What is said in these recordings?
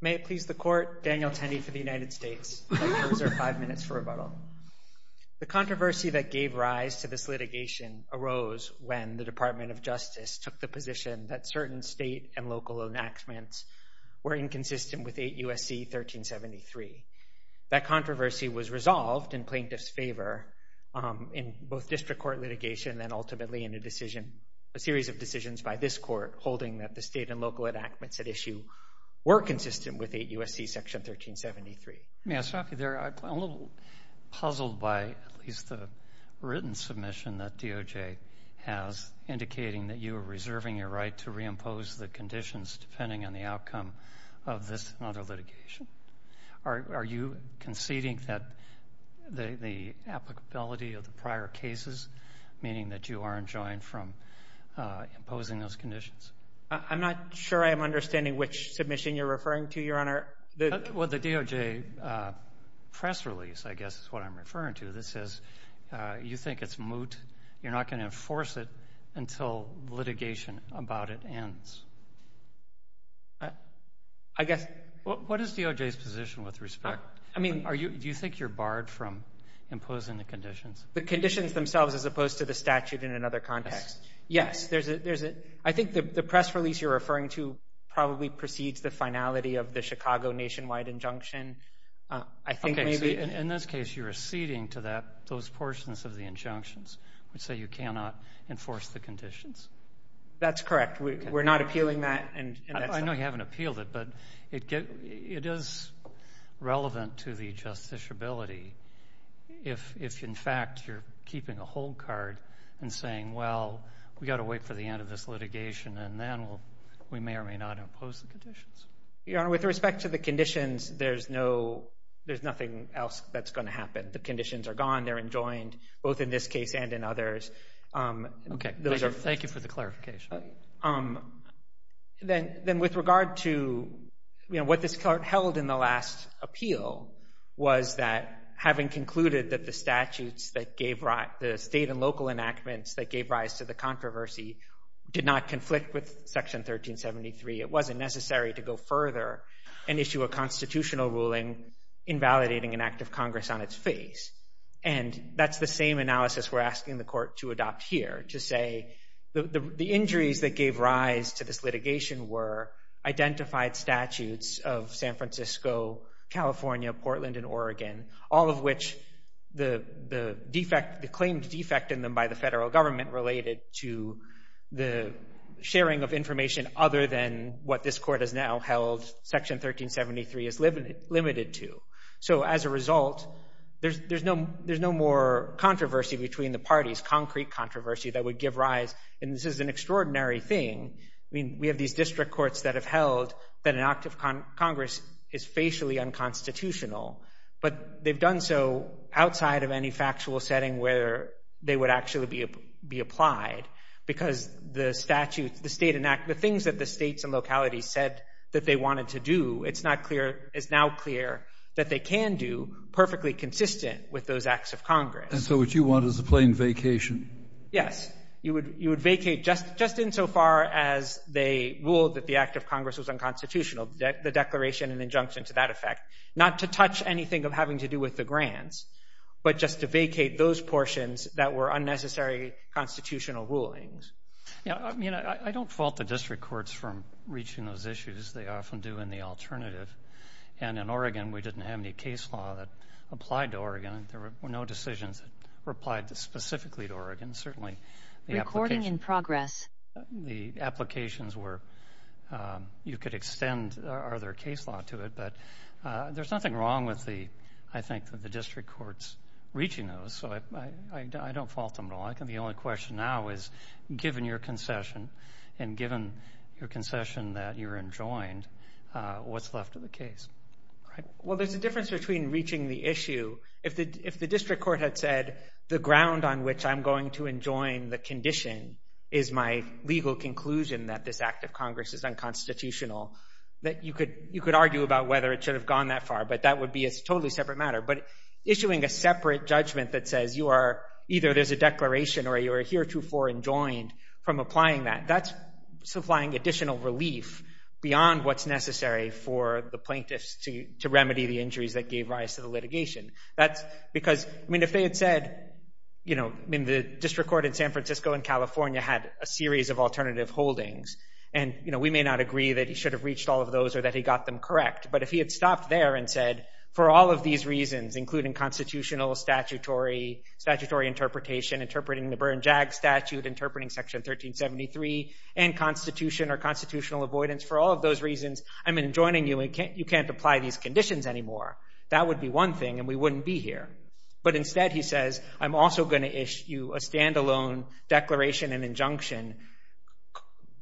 May it please the Court, Daniel Tenney for the United States. Thank you. Those are five minutes for rebuttal. The controversy that gave rise to this litigation arose when the Department of Justice took the position that certain state and local enactments were inconsistent with 8 U.S.C. 1373. That controversy was resolved in plaintiff's favor in both district court litigation and ultimately in a series of decisions by this Court holding that the state and local enactments at issue were consistent with 8 U.S.C. Section 1373. May I stop you there? I'm a little puzzled by at least the written submission that DOJ has indicating that you are reserving your right to reimpose the conditions depending on the outcome of this and other litigation. Are you conceding that the applicability of the prior cases, meaning that you are enjoined from imposing those conditions? I'm not sure I'm understanding which submission you're referring to, Your Honor. Well, the DOJ press release, I guess, is what I'm referring to. This says you think it's moot. You're not going to enforce it until litigation about it ends. What is DOJ's position with respect? Do you think you're barred from imposing the conditions? The conditions themselves as opposed to the statute in another context. Yes. I think the press release you're referring to probably precedes the finality of the Chicago nationwide injunction. In this case, you're acceding to those portions of the injunctions, which say you cannot enforce the conditions. That's correct. We're not appealing that. I know you haven't appealed it, but it is relevant to the justiciability if, in fact, you're keeping a hold card and saying, well, we've got to wait for the end of this litigation, and then we may or may not impose the conditions. Your Honor, with respect to the conditions, there's nothing else that's going to happen. The conditions are gone. They're enjoined, both in this case and in others. Okay. Thank you for the clarification. Then with regard to what this Court held in the last appeal was that having concluded that the statutes that gave rise, the state and local enactments that gave rise to the controversy did not conflict with Section 1373, it wasn't necessary to go further and issue a constitutional ruling invalidating an act of Congress on its face. And that's the same analysis we're asking the Court to adopt here, to say the injuries that gave rise to this litigation were identified statutes of San Francisco, California, Portland, and Oregon, all of which the claimed defect in them by the federal government related to the sharing of information other than what this Court has now held Section 1373 is limited to. So as a result, there's no more controversy between the parties, concrete controversy that would give rise, and this is an extraordinary thing. I mean, we have these district courts that have held that an act of Congress is facially unconstitutional, but they've done so outside of any factual setting where they would actually be applied because the statutes, the state enactments, the things that the states and localities said that they wanted to do, it's not clear, it's now clear that they can do perfectly consistent with those acts of Congress. And so what you want is a plain vacation? Yes. You would vacate just insofar as they ruled that the act of Congress was unconstitutional, the declaration and injunction to that effect, not to touch anything of having to do with the grants, but just to vacate those portions that were unnecessary constitutional rulings. Yeah. I mean, I don't fault the district courts for reaching those issues. They often do in the alternative. And in Oregon, we didn't have any case law that applied to Oregon. There were no decisions that were applied specifically to Oregon, certainly. Recording in progress. The applications were, you could extend other case law to it, but there's nothing wrong with the, I think, the district courts reaching those. So I don't fault them at all. I think the only question now is, given your concession and given your concession that you're enjoined, what's left of the case? Well, there's a difference between reaching the issue. If the district court had said the ground on which I'm going to enjoin the condition is my legal conclusion that this act of Congress is unconstitutional, you could argue about whether it should have gone that far, but that would be a totally separate matter. But issuing a separate judgment that says you are, either there's a declaration or you are heretofore enjoined from applying that, that's supplying additional relief beyond what's necessary for the plaintiffs to remedy the injuries that gave rise to the litigation. That's because, I mean, if they had said, you know, I mean, the district court in San Francisco and California had a series of alternative holdings. And, you know, we may not agree that he should have reached all of those or that he got them correct. But if he had stopped there and said, for all of these reasons, including constitutional statutory interpretation, interpreting the Berne-Jagg statute, interpreting Section 1373, and constitution or constitutional avoidance, for all of those reasons, I'm enjoining you and you can't apply these conditions anymore. That would be one thing and we wouldn't be here. But instead he says, I'm also going to issue a standalone declaration and injunction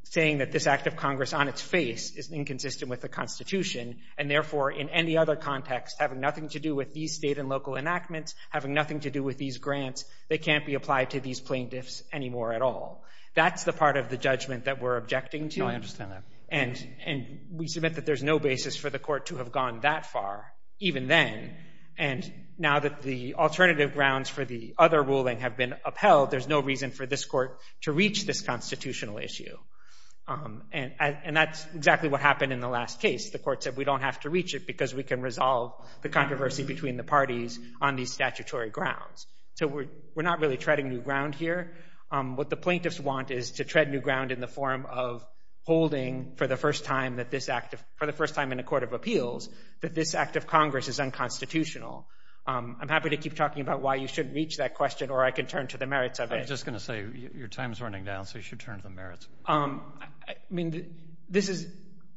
saying that this act of Congress on its face is inconsistent with the Constitution and, therefore, in any other context, having nothing to do with these state and local enactments, having nothing to do with these grants, they can't be applied to these plaintiffs anymore at all. That's the part of the judgment that we're objecting to. No, I understand that. And we submit that there's no basis for the court to have gone that far even then. And now that the alternative grounds for the other ruling have been upheld, there's no reason for this court to reach this constitutional issue. And that's exactly what happened in the last case. The court said we don't have to reach it because we can resolve the controversy between the parties on these statutory grounds. So we're not really treading new ground here. What the plaintiffs want is to tread new ground in the form of holding for the first time in a court of appeals that this act of Congress is unconstitutional. I'm happy to keep talking about why you shouldn't reach that question, or I can turn to the merits of it. I was just going to say your time is running down, so you should turn to the merits. This is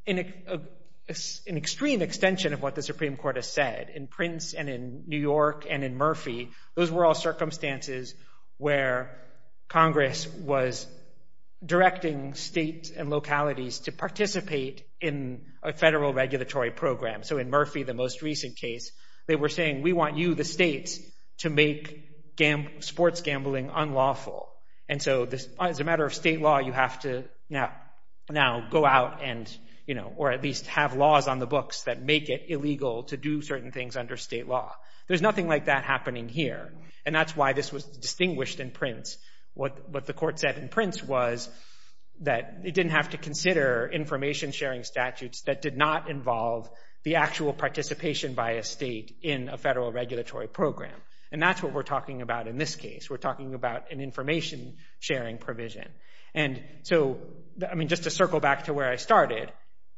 an extreme extension of what the Supreme Court has said. In Prince and in New York and in Murphy, those were all circumstances where Congress was directing states and localities to participate in a federal regulatory program. So in Murphy, the most recent case, they were saying, we want you, the states, to make sports gambling unlawful. And so as a matter of state law, you have to now go out or at least have laws on the books that make it illegal to do certain things under state law. There's nothing like that happening here. And that's why this was distinguished in Prince. What the court said in Prince was that it didn't have to consider information-sharing statutes that did not involve the actual participation by a state in a federal regulatory program. And that's what we're talking about in this case. We're talking about an information-sharing provision. And so just to circle back to where I started,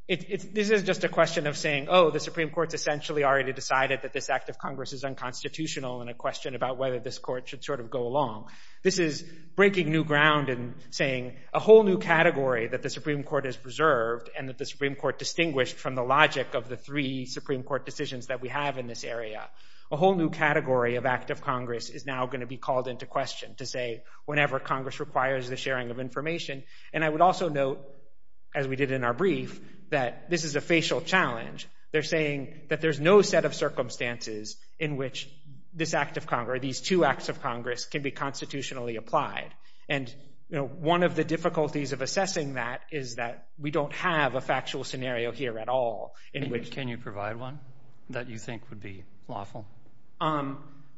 this is just a question of saying, oh, the Supreme Court's essentially already decided that this act of Congress is unconstitutional and a question about whether this court should sort of go along. This is breaking new ground and saying a whole new category that the Supreme Court has preserved and that the Supreme Court distinguished from the logic of the three Supreme Court decisions that we have in this area. A whole new category of act of Congress is now going to be called into question to say whenever Congress requires the sharing of information. And I would also note, as we did in our brief, that this is a facial challenge. They're saying that there's no set of circumstances in which this act of Congress, these two acts of Congress, can be constitutionally applied. And one of the difficulties of assessing that is that we don't have a factual scenario here at all. Can you provide one that you think would be lawful?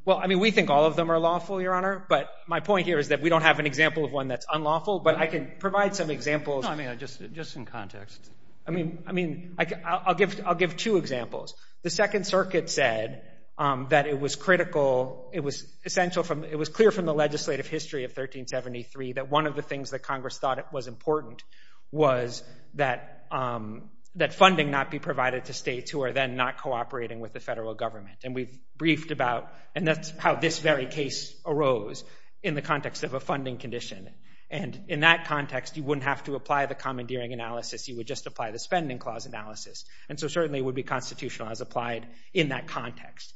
Well, I mean, we think all of them are lawful, Your Honor. But my point here is that we don't have an example of one that's unlawful. But I can provide some examples. No, I mean, just in context. I mean, I'll give two examples. The Second Circuit said that it was critical. It was clear from the legislative history of 1373 that one of the things that Congress thought was important was that funding not be provided to states who are then not cooperating with the federal government. And we've briefed about how this very case arose in the context of a funding condition. And in that context, you wouldn't have to apply the commandeering analysis. You would just apply the spending clause analysis. And so certainly it would be constitutional as applied in that context.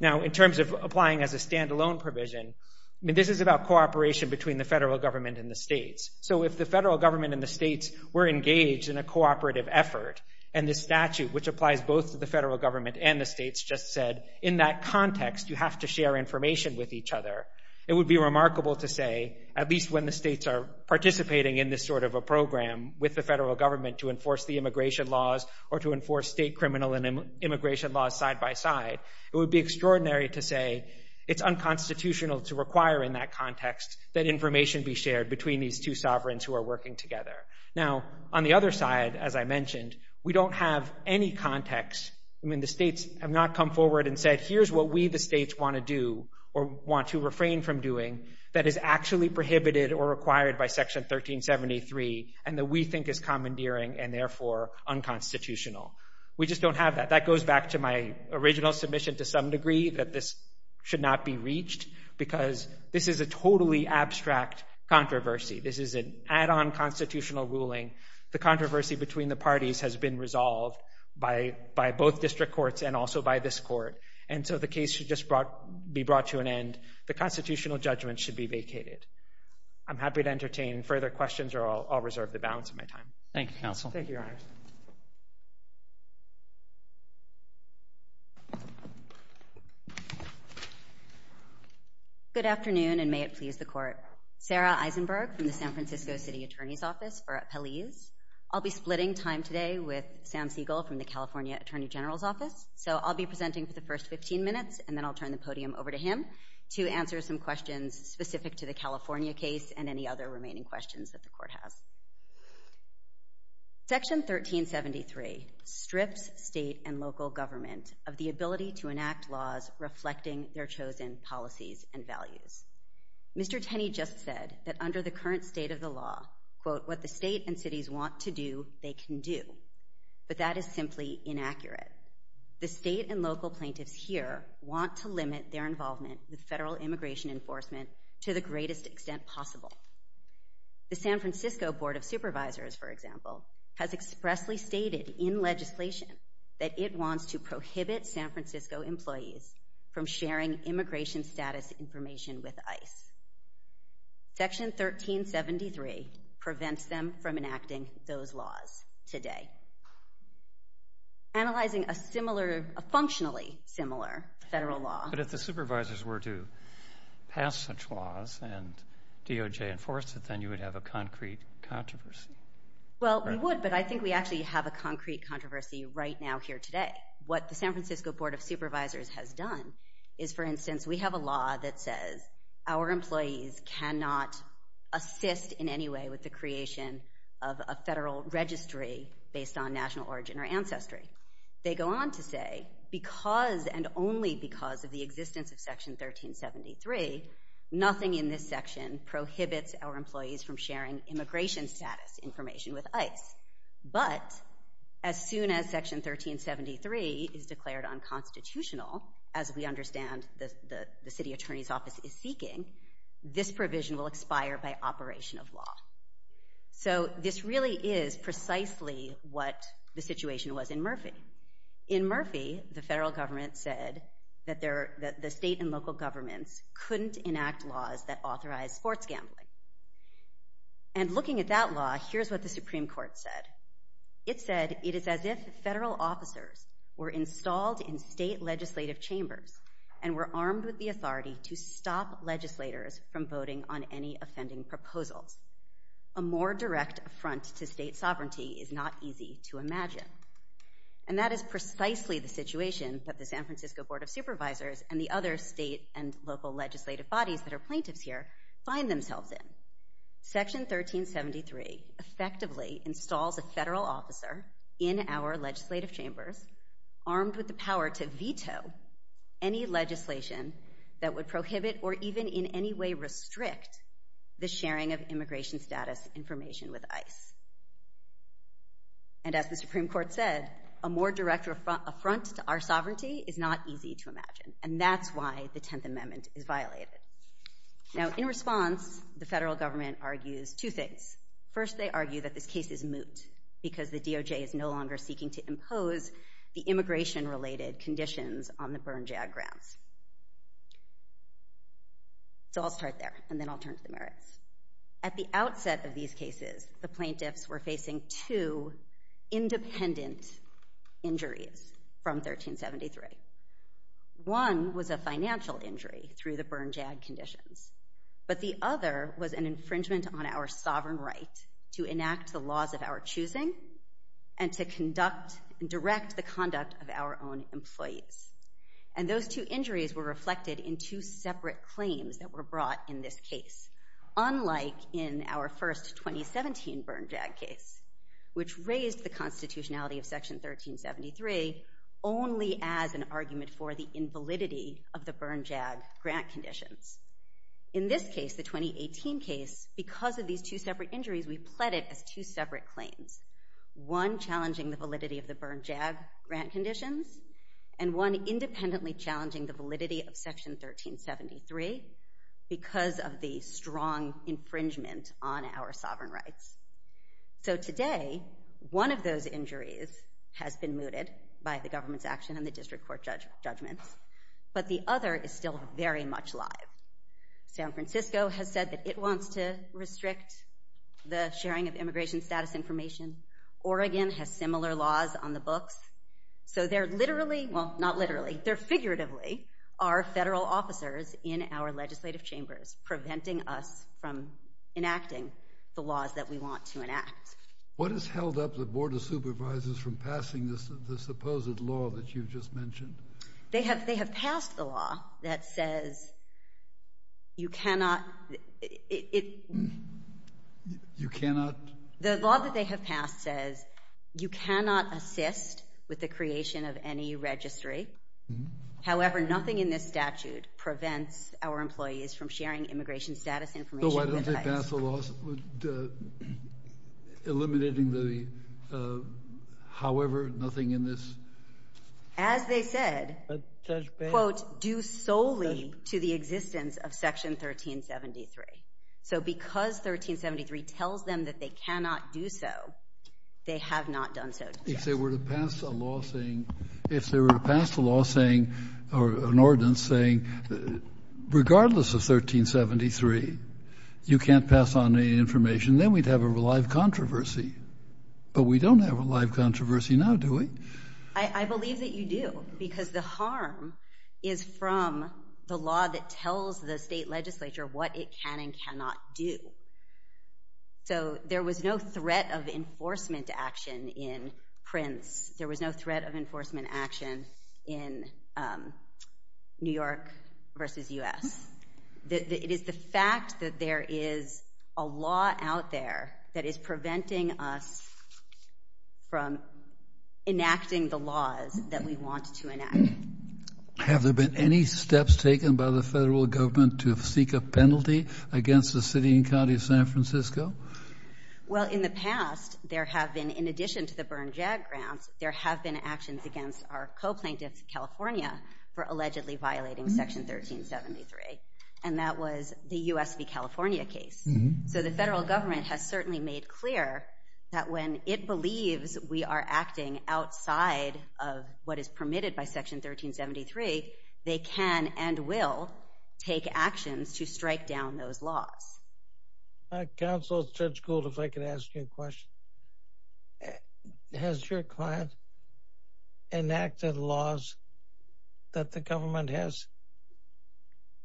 Now, in terms of applying as a standalone provision, I mean, this is about cooperation between the federal government and the states. So if the federal government and the states were engaged in a cooperative effort, and the statute, which applies both to the federal government and the states, just said, in that context, you have to share information with each other, it would be remarkable to say, at least when the states are participating in this sort of a program with the federal government to enforce the immigration laws or to enforce state criminal and immigration laws side by side, it would be extraordinary to say it's unconstitutional to require in that context that information be shared between these two sovereigns who are working together. Now, on the other side, as I mentioned, we don't have any context. I mean, the states have not come forward and said, here's what we the states want to do or want to refrain from doing that is actually prohibited or required by Section 1373 and that we think is commandeering and therefore unconstitutional. We just don't have that. That goes back to my original submission to some degree that this should not be reached because this is a totally abstract controversy. This is an add-on constitutional ruling. The controversy between the parties has been resolved by both district courts and also by this court, and so the case should just be brought to an end. The constitutional judgment should be vacated. I'm happy to entertain further questions or I'll reserve the balance of my time. Thank you, Counsel. Thank you, Your Honor. Good afternoon, and may it please the Court. Sarah Eisenberg from the San Francisco City Attorney's Office for Appellees. I'll be splitting time today with Sam Siegel from the California Attorney General's Office, so I'll be presenting for the first 15 minutes and then I'll turn the podium over to him to answer some questions specific to the California case and any other remaining questions that the Court has. Section 1373 strips state and local government of the ability to enact laws reflecting their chosen policies and values. Mr. Tenney just said that under the current state of the law, quote, what the state and cities want to do, they can do, but that is simply inaccurate. The state and local plaintiffs here want to limit their involvement with federal immigration enforcement to the greatest extent possible. The San Francisco Board of Supervisors, for example, has expressly stated in legislation that it wants to prohibit San Francisco employees from sharing immigration status information with ICE. Section 1373 prevents them from enacting those laws today. Analyzing a similar, a functionally similar federal law. But if the supervisors were to pass such laws and DOJ enforced it, then you would have a concrete controversy. Well, we would, but I think we actually have a concrete controversy right now here today. What the San Francisco Board of Supervisors has done is, for instance, we have a law that says our employees cannot assist in any way with the creation of a federal registry based on national origin or ancestry. They go on to say, because and only because of the existence of Section 1373, nothing in this section prohibits our employees from sharing immigration status information with ICE. But as soon as Section 1373 is declared unconstitutional, as we understand the city attorney's office is seeking, this provision will expire by operation of law. So this really is precisely what the situation was in Murphy. In Murphy, the federal government said that the state and local governments couldn't enact laws that authorized sports gambling. And looking at that law, here's what the Supreme Court said. It said it is as if federal officers were installed in state legislative chambers and were armed with the authority to stop legislators from voting on any offending proposals. A more direct affront to state sovereignty is not easy to imagine. And that is precisely the situation that the San Francisco Board of Supervisors and the other state and local legislative bodies that are plaintiffs here find themselves in. Section 1373 effectively installs a federal officer in our legislative chambers armed with the power to veto any legislation that would prohibit or even in any way restrict the sharing of immigration status information with ICE. And as the Supreme Court said, a more direct affront to our sovereignty is not easy to imagine. And that's why the Tenth Amendment is violated. Now in response, the federal government argues two things. First, they argue that this case is moot because the DOJ is no longer seeking to impose the immigration-related conditions on the burn-jag grounds. So I'll start there, and then I'll turn to the merits. At the outset of these cases, the plaintiffs were facing two independent injuries from 1373. One was a financial injury through the burn-jag conditions, but the other was an infringement on our sovereign right to enact the laws of our choosing and to conduct and direct the conduct of our own employees. And those two injuries were reflected in two separate claims that were brought in this case, unlike in our first 2017 burn-jag case, which raised the constitutionality of Section 1373 only as an argument for the invalidity of the burn-jag grant conditions. In this case, the 2018 case, because of these two separate injuries, we pled it as two separate claims, one challenging the validity of the burn-jag grant conditions and one independently challenging the validity of Section 1373 because of the strong infringement on our sovereign rights. So today, one of those injuries has been mooted by the government's action in the district court judgments, but the other is still very much alive. San Francisco has said that it wants to restrict the sharing of immigration status information. Oregon has similar laws on the books. So they're literally – well, not literally – they're figuratively our federal officers in our legislative chambers preventing us from enacting the laws that we want to enact. What has held up the Board of Supervisors from passing the supposed law that you just mentioned? They have passed the law that says you cannot – You cannot? The law that they have passed says you cannot assist with the creation of any registry. However, nothing in this statute prevents our employees from sharing immigration status information. So why don't they pass a law eliminating the – however, nothing in this? As they said, quote, due solely to the existence of Section 1373. So because 1373 tells them that they cannot do so, they have not done so. If they were to pass a law saying – or an ordinance saying regardless of 1373, you can't pass on any information, then we'd have a live controversy. But we don't have a live controversy now, do we? I believe that you do because the harm is from the law that tells the state legislature what it can and cannot do. So there was no threat of enforcement action in Prince. There was no threat of enforcement action in New York v. U.S. It is the fact that there is a law out there that is preventing us from enacting the laws that we want to enact. Have there been any steps taken by the federal government to seek a penalty against the city and county of San Francisco? Well, in the past, there have been – in addition to the burn-jag grants, there have been actions against our co-plaintiffs of California for allegedly violating Section 1373, and that was the U.S. v. California case. So the federal government has certainly made clear that when it believes we are acting outside of what is permitted by Section 1373, they can and will take actions to strike down those laws. Counsel, Judge Gould, if I could ask you a question. Has your client enacted laws that the government has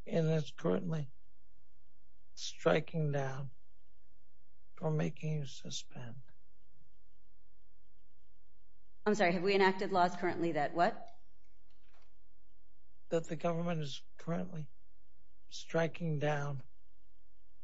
and is currently striking down or making you suspend? I'm sorry, have we enacted laws currently that what? That the government is currently striking down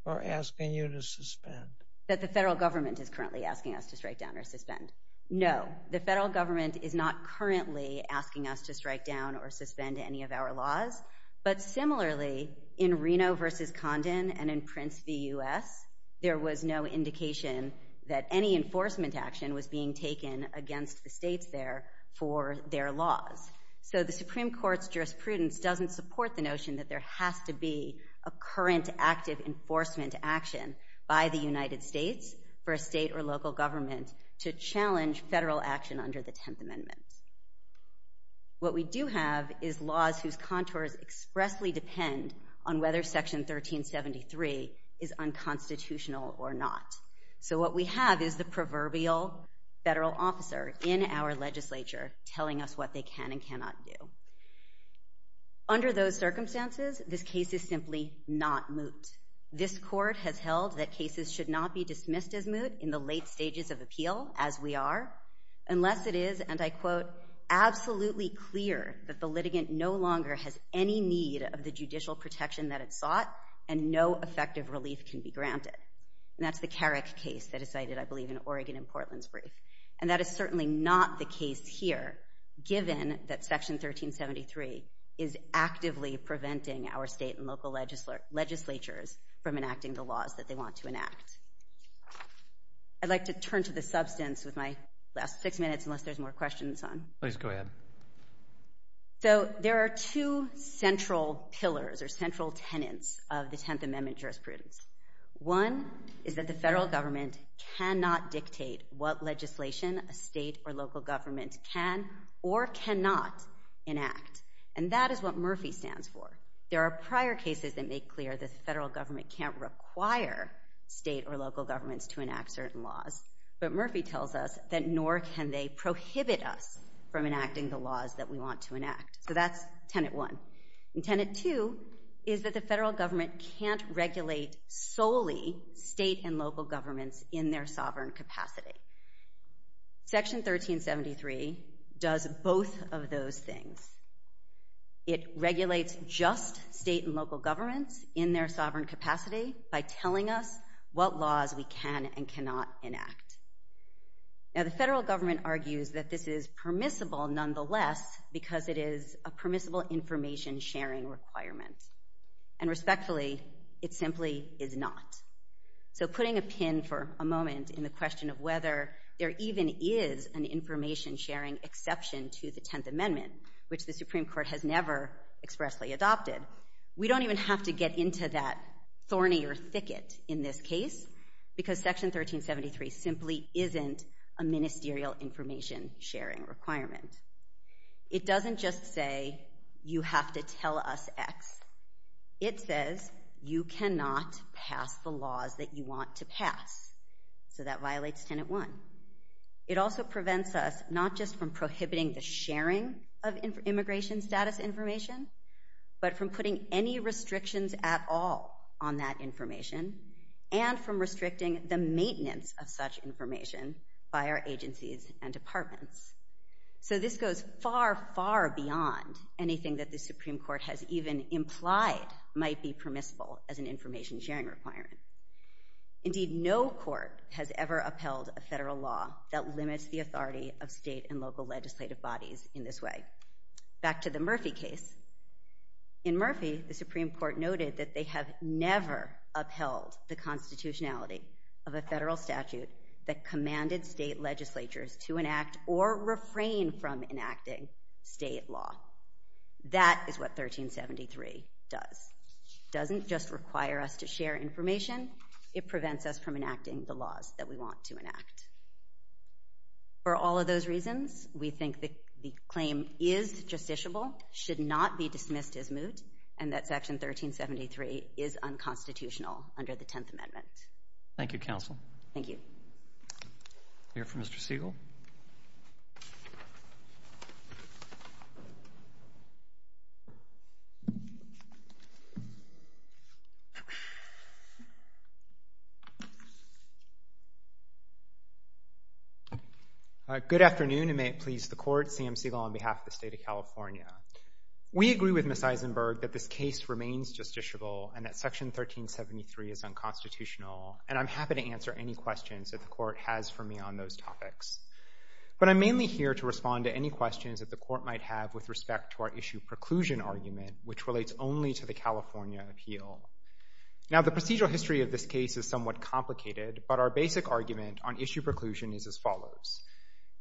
or asking you to suspend. That the federal government is currently asking us to strike down or suspend. No, the federal government is not currently asking us to strike down or suspend any of our laws. But similarly, in Reno v. Condon and in Prince v. U.S., there was no indication that any enforcement action was being taken against the states there for their laws. So the Supreme Court's jurisprudence doesn't support the notion that there has to be a current active enforcement action by the United States for a state or local government to challenge federal action under the Tenth Amendment. What we do have is laws whose contours expressly depend on whether Section 1373 is unconstitutional or not. So what we have is the proverbial federal officer in our legislature telling us what they can and cannot do. Under those circumstances, this case is simply not moot. This Court has held that cases should not be dismissed as moot in the late stages of appeal, as we are, unless it is, and I quote, absolutely clear that the litigant no longer has any need of the judicial protection that it sought, and no effective relief can be granted. And that's the Carrick case that is cited, I believe, in Oregon and Portland's brief. And that is certainly not the case here, given that Section 1373 is actively preventing our state and local legislatures from enacting the laws that they want to enact. I'd like to turn to the substance with my last six minutes, unless there's more questions on. Please go ahead. So there are two central pillars or central tenets of the Tenth Amendment jurisprudence. One is that the federal government cannot dictate what legislation a state or local government can or cannot enact, and that is what Murphy stands for. There are prior cases that make clear the federal government can't require state or local governments to enact certain laws, but Murphy tells us that nor can they prohibit us from enacting the laws that we want to enact. So that's Tenet 1. And Tenet 2 is that the federal government can't regulate solely state and local governments in their sovereign capacity. Section 1373 does both of those things. It regulates just state and local governments in their sovereign capacity by telling us what laws we can and cannot enact. Now, the federal government argues that this is permissible nonetheless because it is a permissible information-sharing requirement, and respectfully, it simply is not. So putting a pin for a moment in the question of whether there even is an information-sharing exception to the Tenth Amendment, which the Supreme Court has never expressly adopted, we don't even have to get into that thorny or thicket in this case because Section 1373 simply isn't a ministerial information-sharing requirement. It doesn't just say you have to tell us X. It says you cannot pass the laws that you want to pass. So that violates Tenet 1. of immigration status information, but from putting any restrictions at all on that information and from restricting the maintenance of such information by our agencies and departments. So this goes far, far beyond anything that the Supreme Court has even implied might be permissible as an information-sharing requirement. Indeed, no court has ever upheld a federal law that limits the authority of state and local legislative bodies in this way. Back to the Murphy case. In Murphy, the Supreme Court noted that they have never upheld the constitutionality of a federal statute that commanded state legislatures to enact or refrain from enacting state law. That is what 1373 does. It doesn't just require us to share information. It prevents us from enacting the laws that we want to enact. For all of those reasons, we think the claim is justiciable, should not be dismissed as moot, and that Section 1373 is unconstitutional under the Tenth Amendment. Thank you, Counsel. Thank you. We'll hear from Mr. Siegel. All right. Good afternoon, and may it please the Court, Sam Siegel on behalf of the State of California. We agree with Ms. Eisenberg that this case remains justiciable and that Section 1373 is unconstitutional, and I'm happy to answer any questions that the Court has for me on those topics. But I'm mainly here to respond to any questions that the Court might have with respect to our issue preclusion argument, which relates only to the California appeal. Now, the procedural history of this case is somewhat complicated, but our basic argument on issue preclusion is as follows.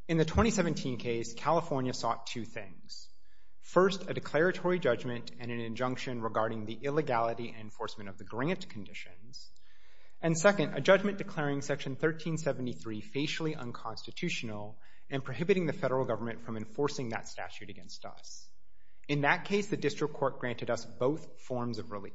In the 2017 case, California sought two things. First, a declaratory judgment and an injunction regarding the illegality and enforcement of the grant conditions. And second, a judgment declaring Section 1373 facially unconstitutional and prohibiting the federal government from enforcing that statute against us. In that case, the district court granted us both forms of relief.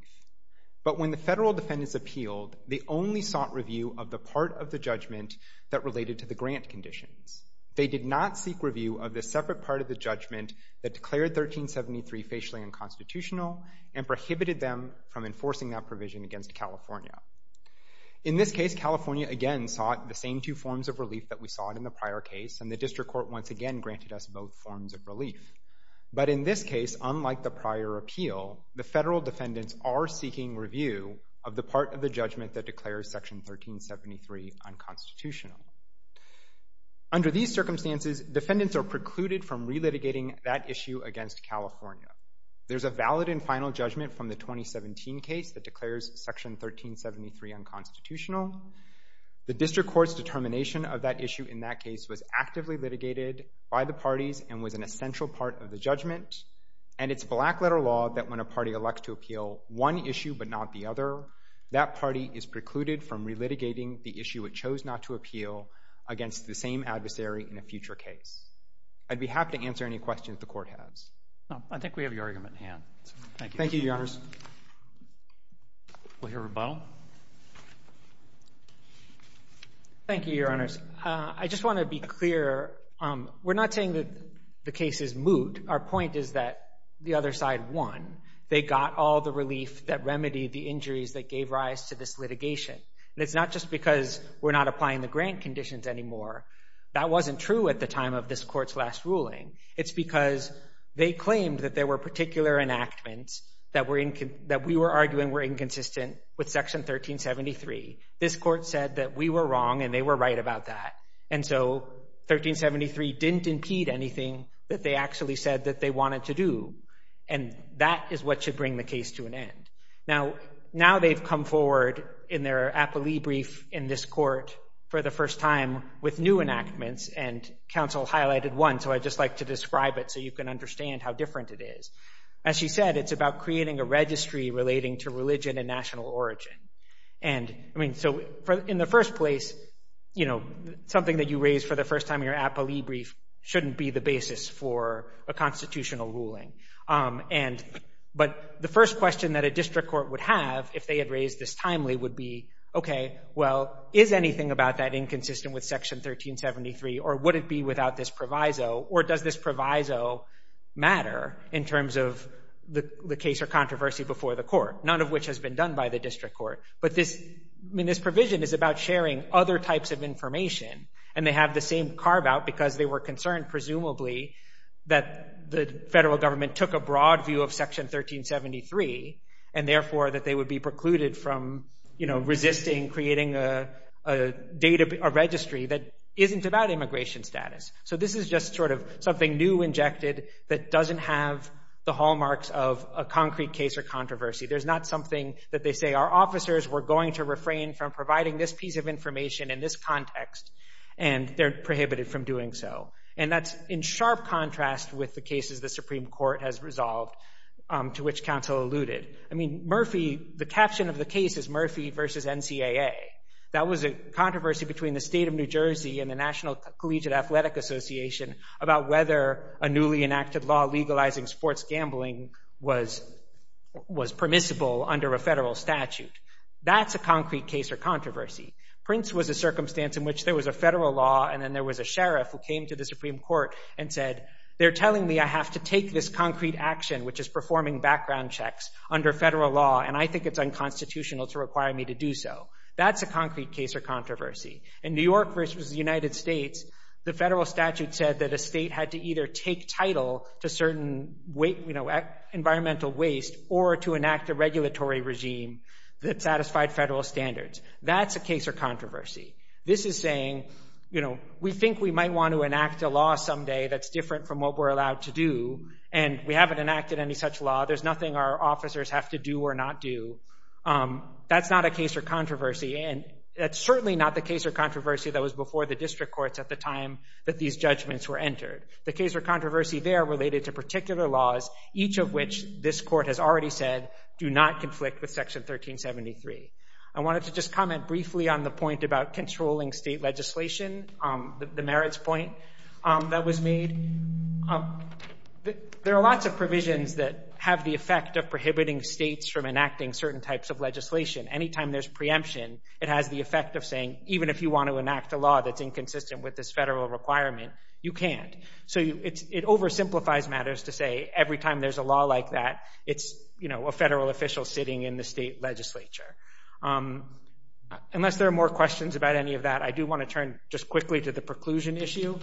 But when the federal defendants appealed, they only sought review of the part of the judgment that related to the grant conditions. They did not seek review of the separate part of the judgment that declared 1373 facially unconstitutional and prohibited them from enforcing that provision against California. In this case, California, again, sought the same two forms of relief that we sought in the prior case, and the district court once again granted us both forms of relief. But in this case, unlike the prior appeal, the federal defendants are seeking review of the part of the judgment that declares Section 1373 unconstitutional. Under these circumstances, defendants are precluded from relitigating that issue against California. There's a valid and final judgment from the 2017 case that declares Section 1373 unconstitutional. The district court's determination of that issue in that case was actively litigated by the parties and was an essential part of the judgment. And it's black-letter law that when a party elects to appeal one issue but not the other, that party is precluded from relitigating the issue it chose not to appeal against the same adversary in a future case. I'd be happy to answer any questions the Court has. I think we have your argument in hand. Thank you, Your Honors. We'll hear rebuttal. Thank you, Your Honors. I just want to be clear. We're not saying that the case is moot. Our point is that the other side won. They got all the relief that remedied the injuries that gave rise to this litigation. And it's not just because we're not applying the grant conditions anymore. That wasn't true at the time of this Court's last ruling. It's because they claimed that there were particular enactments that we were arguing were inconsistent with Section 1373. This Court said that we were wrong and they were right about that. And so 1373 didn't impede anything that they actually said that they wanted to do. And that is what should bring the case to an end. Now they've come forward in their appellee brief in this Court for the first time with new enactments, and counsel highlighted one, so I'd just like to describe it so you can understand how different it is. As she said, it's about creating a registry relating to religion and national origin. So in the first place, something that you raise for the first time in your appellee brief shouldn't be the basis for a constitutional ruling. But the first question that a district court would have if they had raised this timely would be, okay, well, is anything about that inconsistent with Section 1373, or would it be without this proviso, or does this proviso matter in terms of the case or controversy before the Court, none of which has been done by the district court? But this provision is about sharing other types of information, and they have the same carve-out because they were concerned, presumably, that the federal government took a broad view of Section 1373 and therefore that they would be precluded from resisting creating a registry that isn't about immigration status. So this is just sort of something new injected that doesn't have the hallmarks of a concrete case or controversy. There's not something that they say, our officers were going to refrain from providing this piece of information in this context, and they're prohibited from doing so. And that's in sharp contrast with the cases the Supreme Court has resolved, to which counsel alluded. I mean, Murphy, the caption of the case is Murphy v. NCAA. That was a controversy between the state of New Jersey and the National Collegiate Athletic Association about whether a newly enacted law legalizing sports gambling was permissible under a federal statute. That's a concrete case or controversy. Prince was a circumstance in which there was a federal law and then there was a sheriff who came to the Supreme Court and said, they're telling me I have to take this concrete action, which is performing background checks, under federal law, and I think it's unconstitutional to require me to do so. That's a concrete case or controversy. In New York v. the United States, the federal statute said that a state had to either take title to certain environmental waste or to enact a regulatory regime that satisfied federal standards. That's a case or controversy. This is saying, we think we might want to enact a law someday that's different from what we're allowed to do, and we haven't enacted any such law. There's nothing our officers have to do or not do. That's not a case or controversy, and that's certainly not the case or controversy that was before the district courts at the time that these judgments were entered. The case or controversy there related to particular laws, each of which this court has already said do not conflict with Section 1373. I wanted to just comment briefly on the point about controlling state legislation, the merits point that was made. There are lots of provisions that have the effect of prohibiting states from enacting certain types of legislation. Anytime there's preemption, it has the effect of saying, even if you want to enact a law that's inconsistent with this federal requirement, you can't. It oversimplifies matters to say, every time there's a law like that, it's a federal official sitting in the state legislature. Unless there are more questions about any of that, I do want to turn just quickly to the preclusion issue.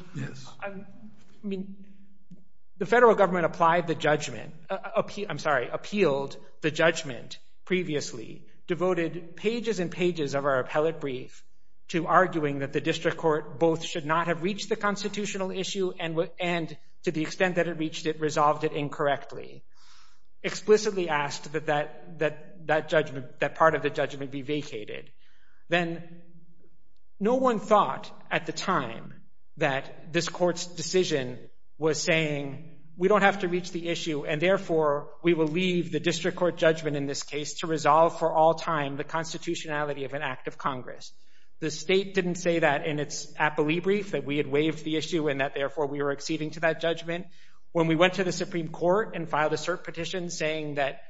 The federal government appealed the judgment previously, devoted pages and pages of our appellate brief to arguing that the district court both should not have reached the constitutional issue and to the extent that it reached it, resolved it incorrectly, explicitly asked that part of the judgment be vacated. Then no one thought at the time that this court's decision was saying, we don't have to reach the issue and therefore we will leave the district court judgment in this case to resolve for all time the constitutionality of an act of Congress. The state didn't say that in its appellee brief, that we had waived the issue and that therefore we were acceding to that judgment. When we went to the Supreme Court and filed a cert petition saying that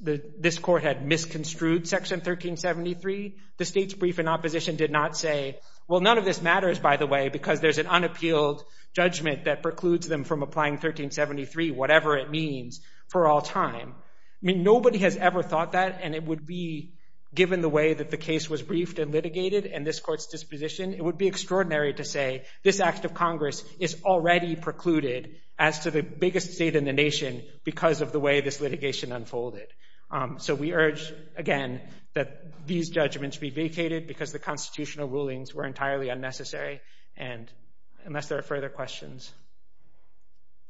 this court had misconstrued Section 1373, the state's brief in opposition did not say, well, none of this matters, by the way, because there's an unappealed judgment that precludes them from applying 1373, whatever it means, for all time. I mean, nobody has ever thought that and it would be, given the way that the case was briefed and litigated and this court's disposition, it would be extraordinary to say this act of Congress is already precluded as to the biggest state in the nation because of the way this litigation unfolded. So we urge, again, that these judgments be vacated because the constitutional rulings were entirely unnecessary and unless there are further questions.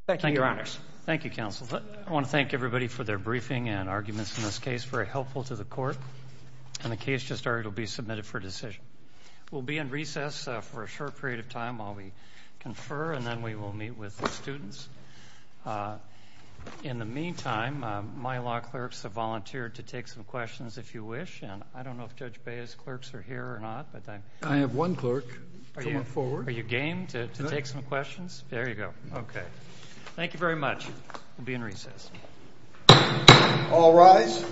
Thank you, Your Honors. Thank you, counsel. I want to thank everybody for their briefing and arguments in this case. Very helpful to the court. And the case just started will be submitted for decision. We'll be in recess for a short period of time while we confer and then we will meet with the students. In the meantime, my law clerks have volunteered to take some questions, if you wish, and I don't know if Judge Baez's clerks are here or not. I have one clerk coming forward. Are you game to take some questions? There you go. Okay. Thank you very much. We'll be in recess. All rise.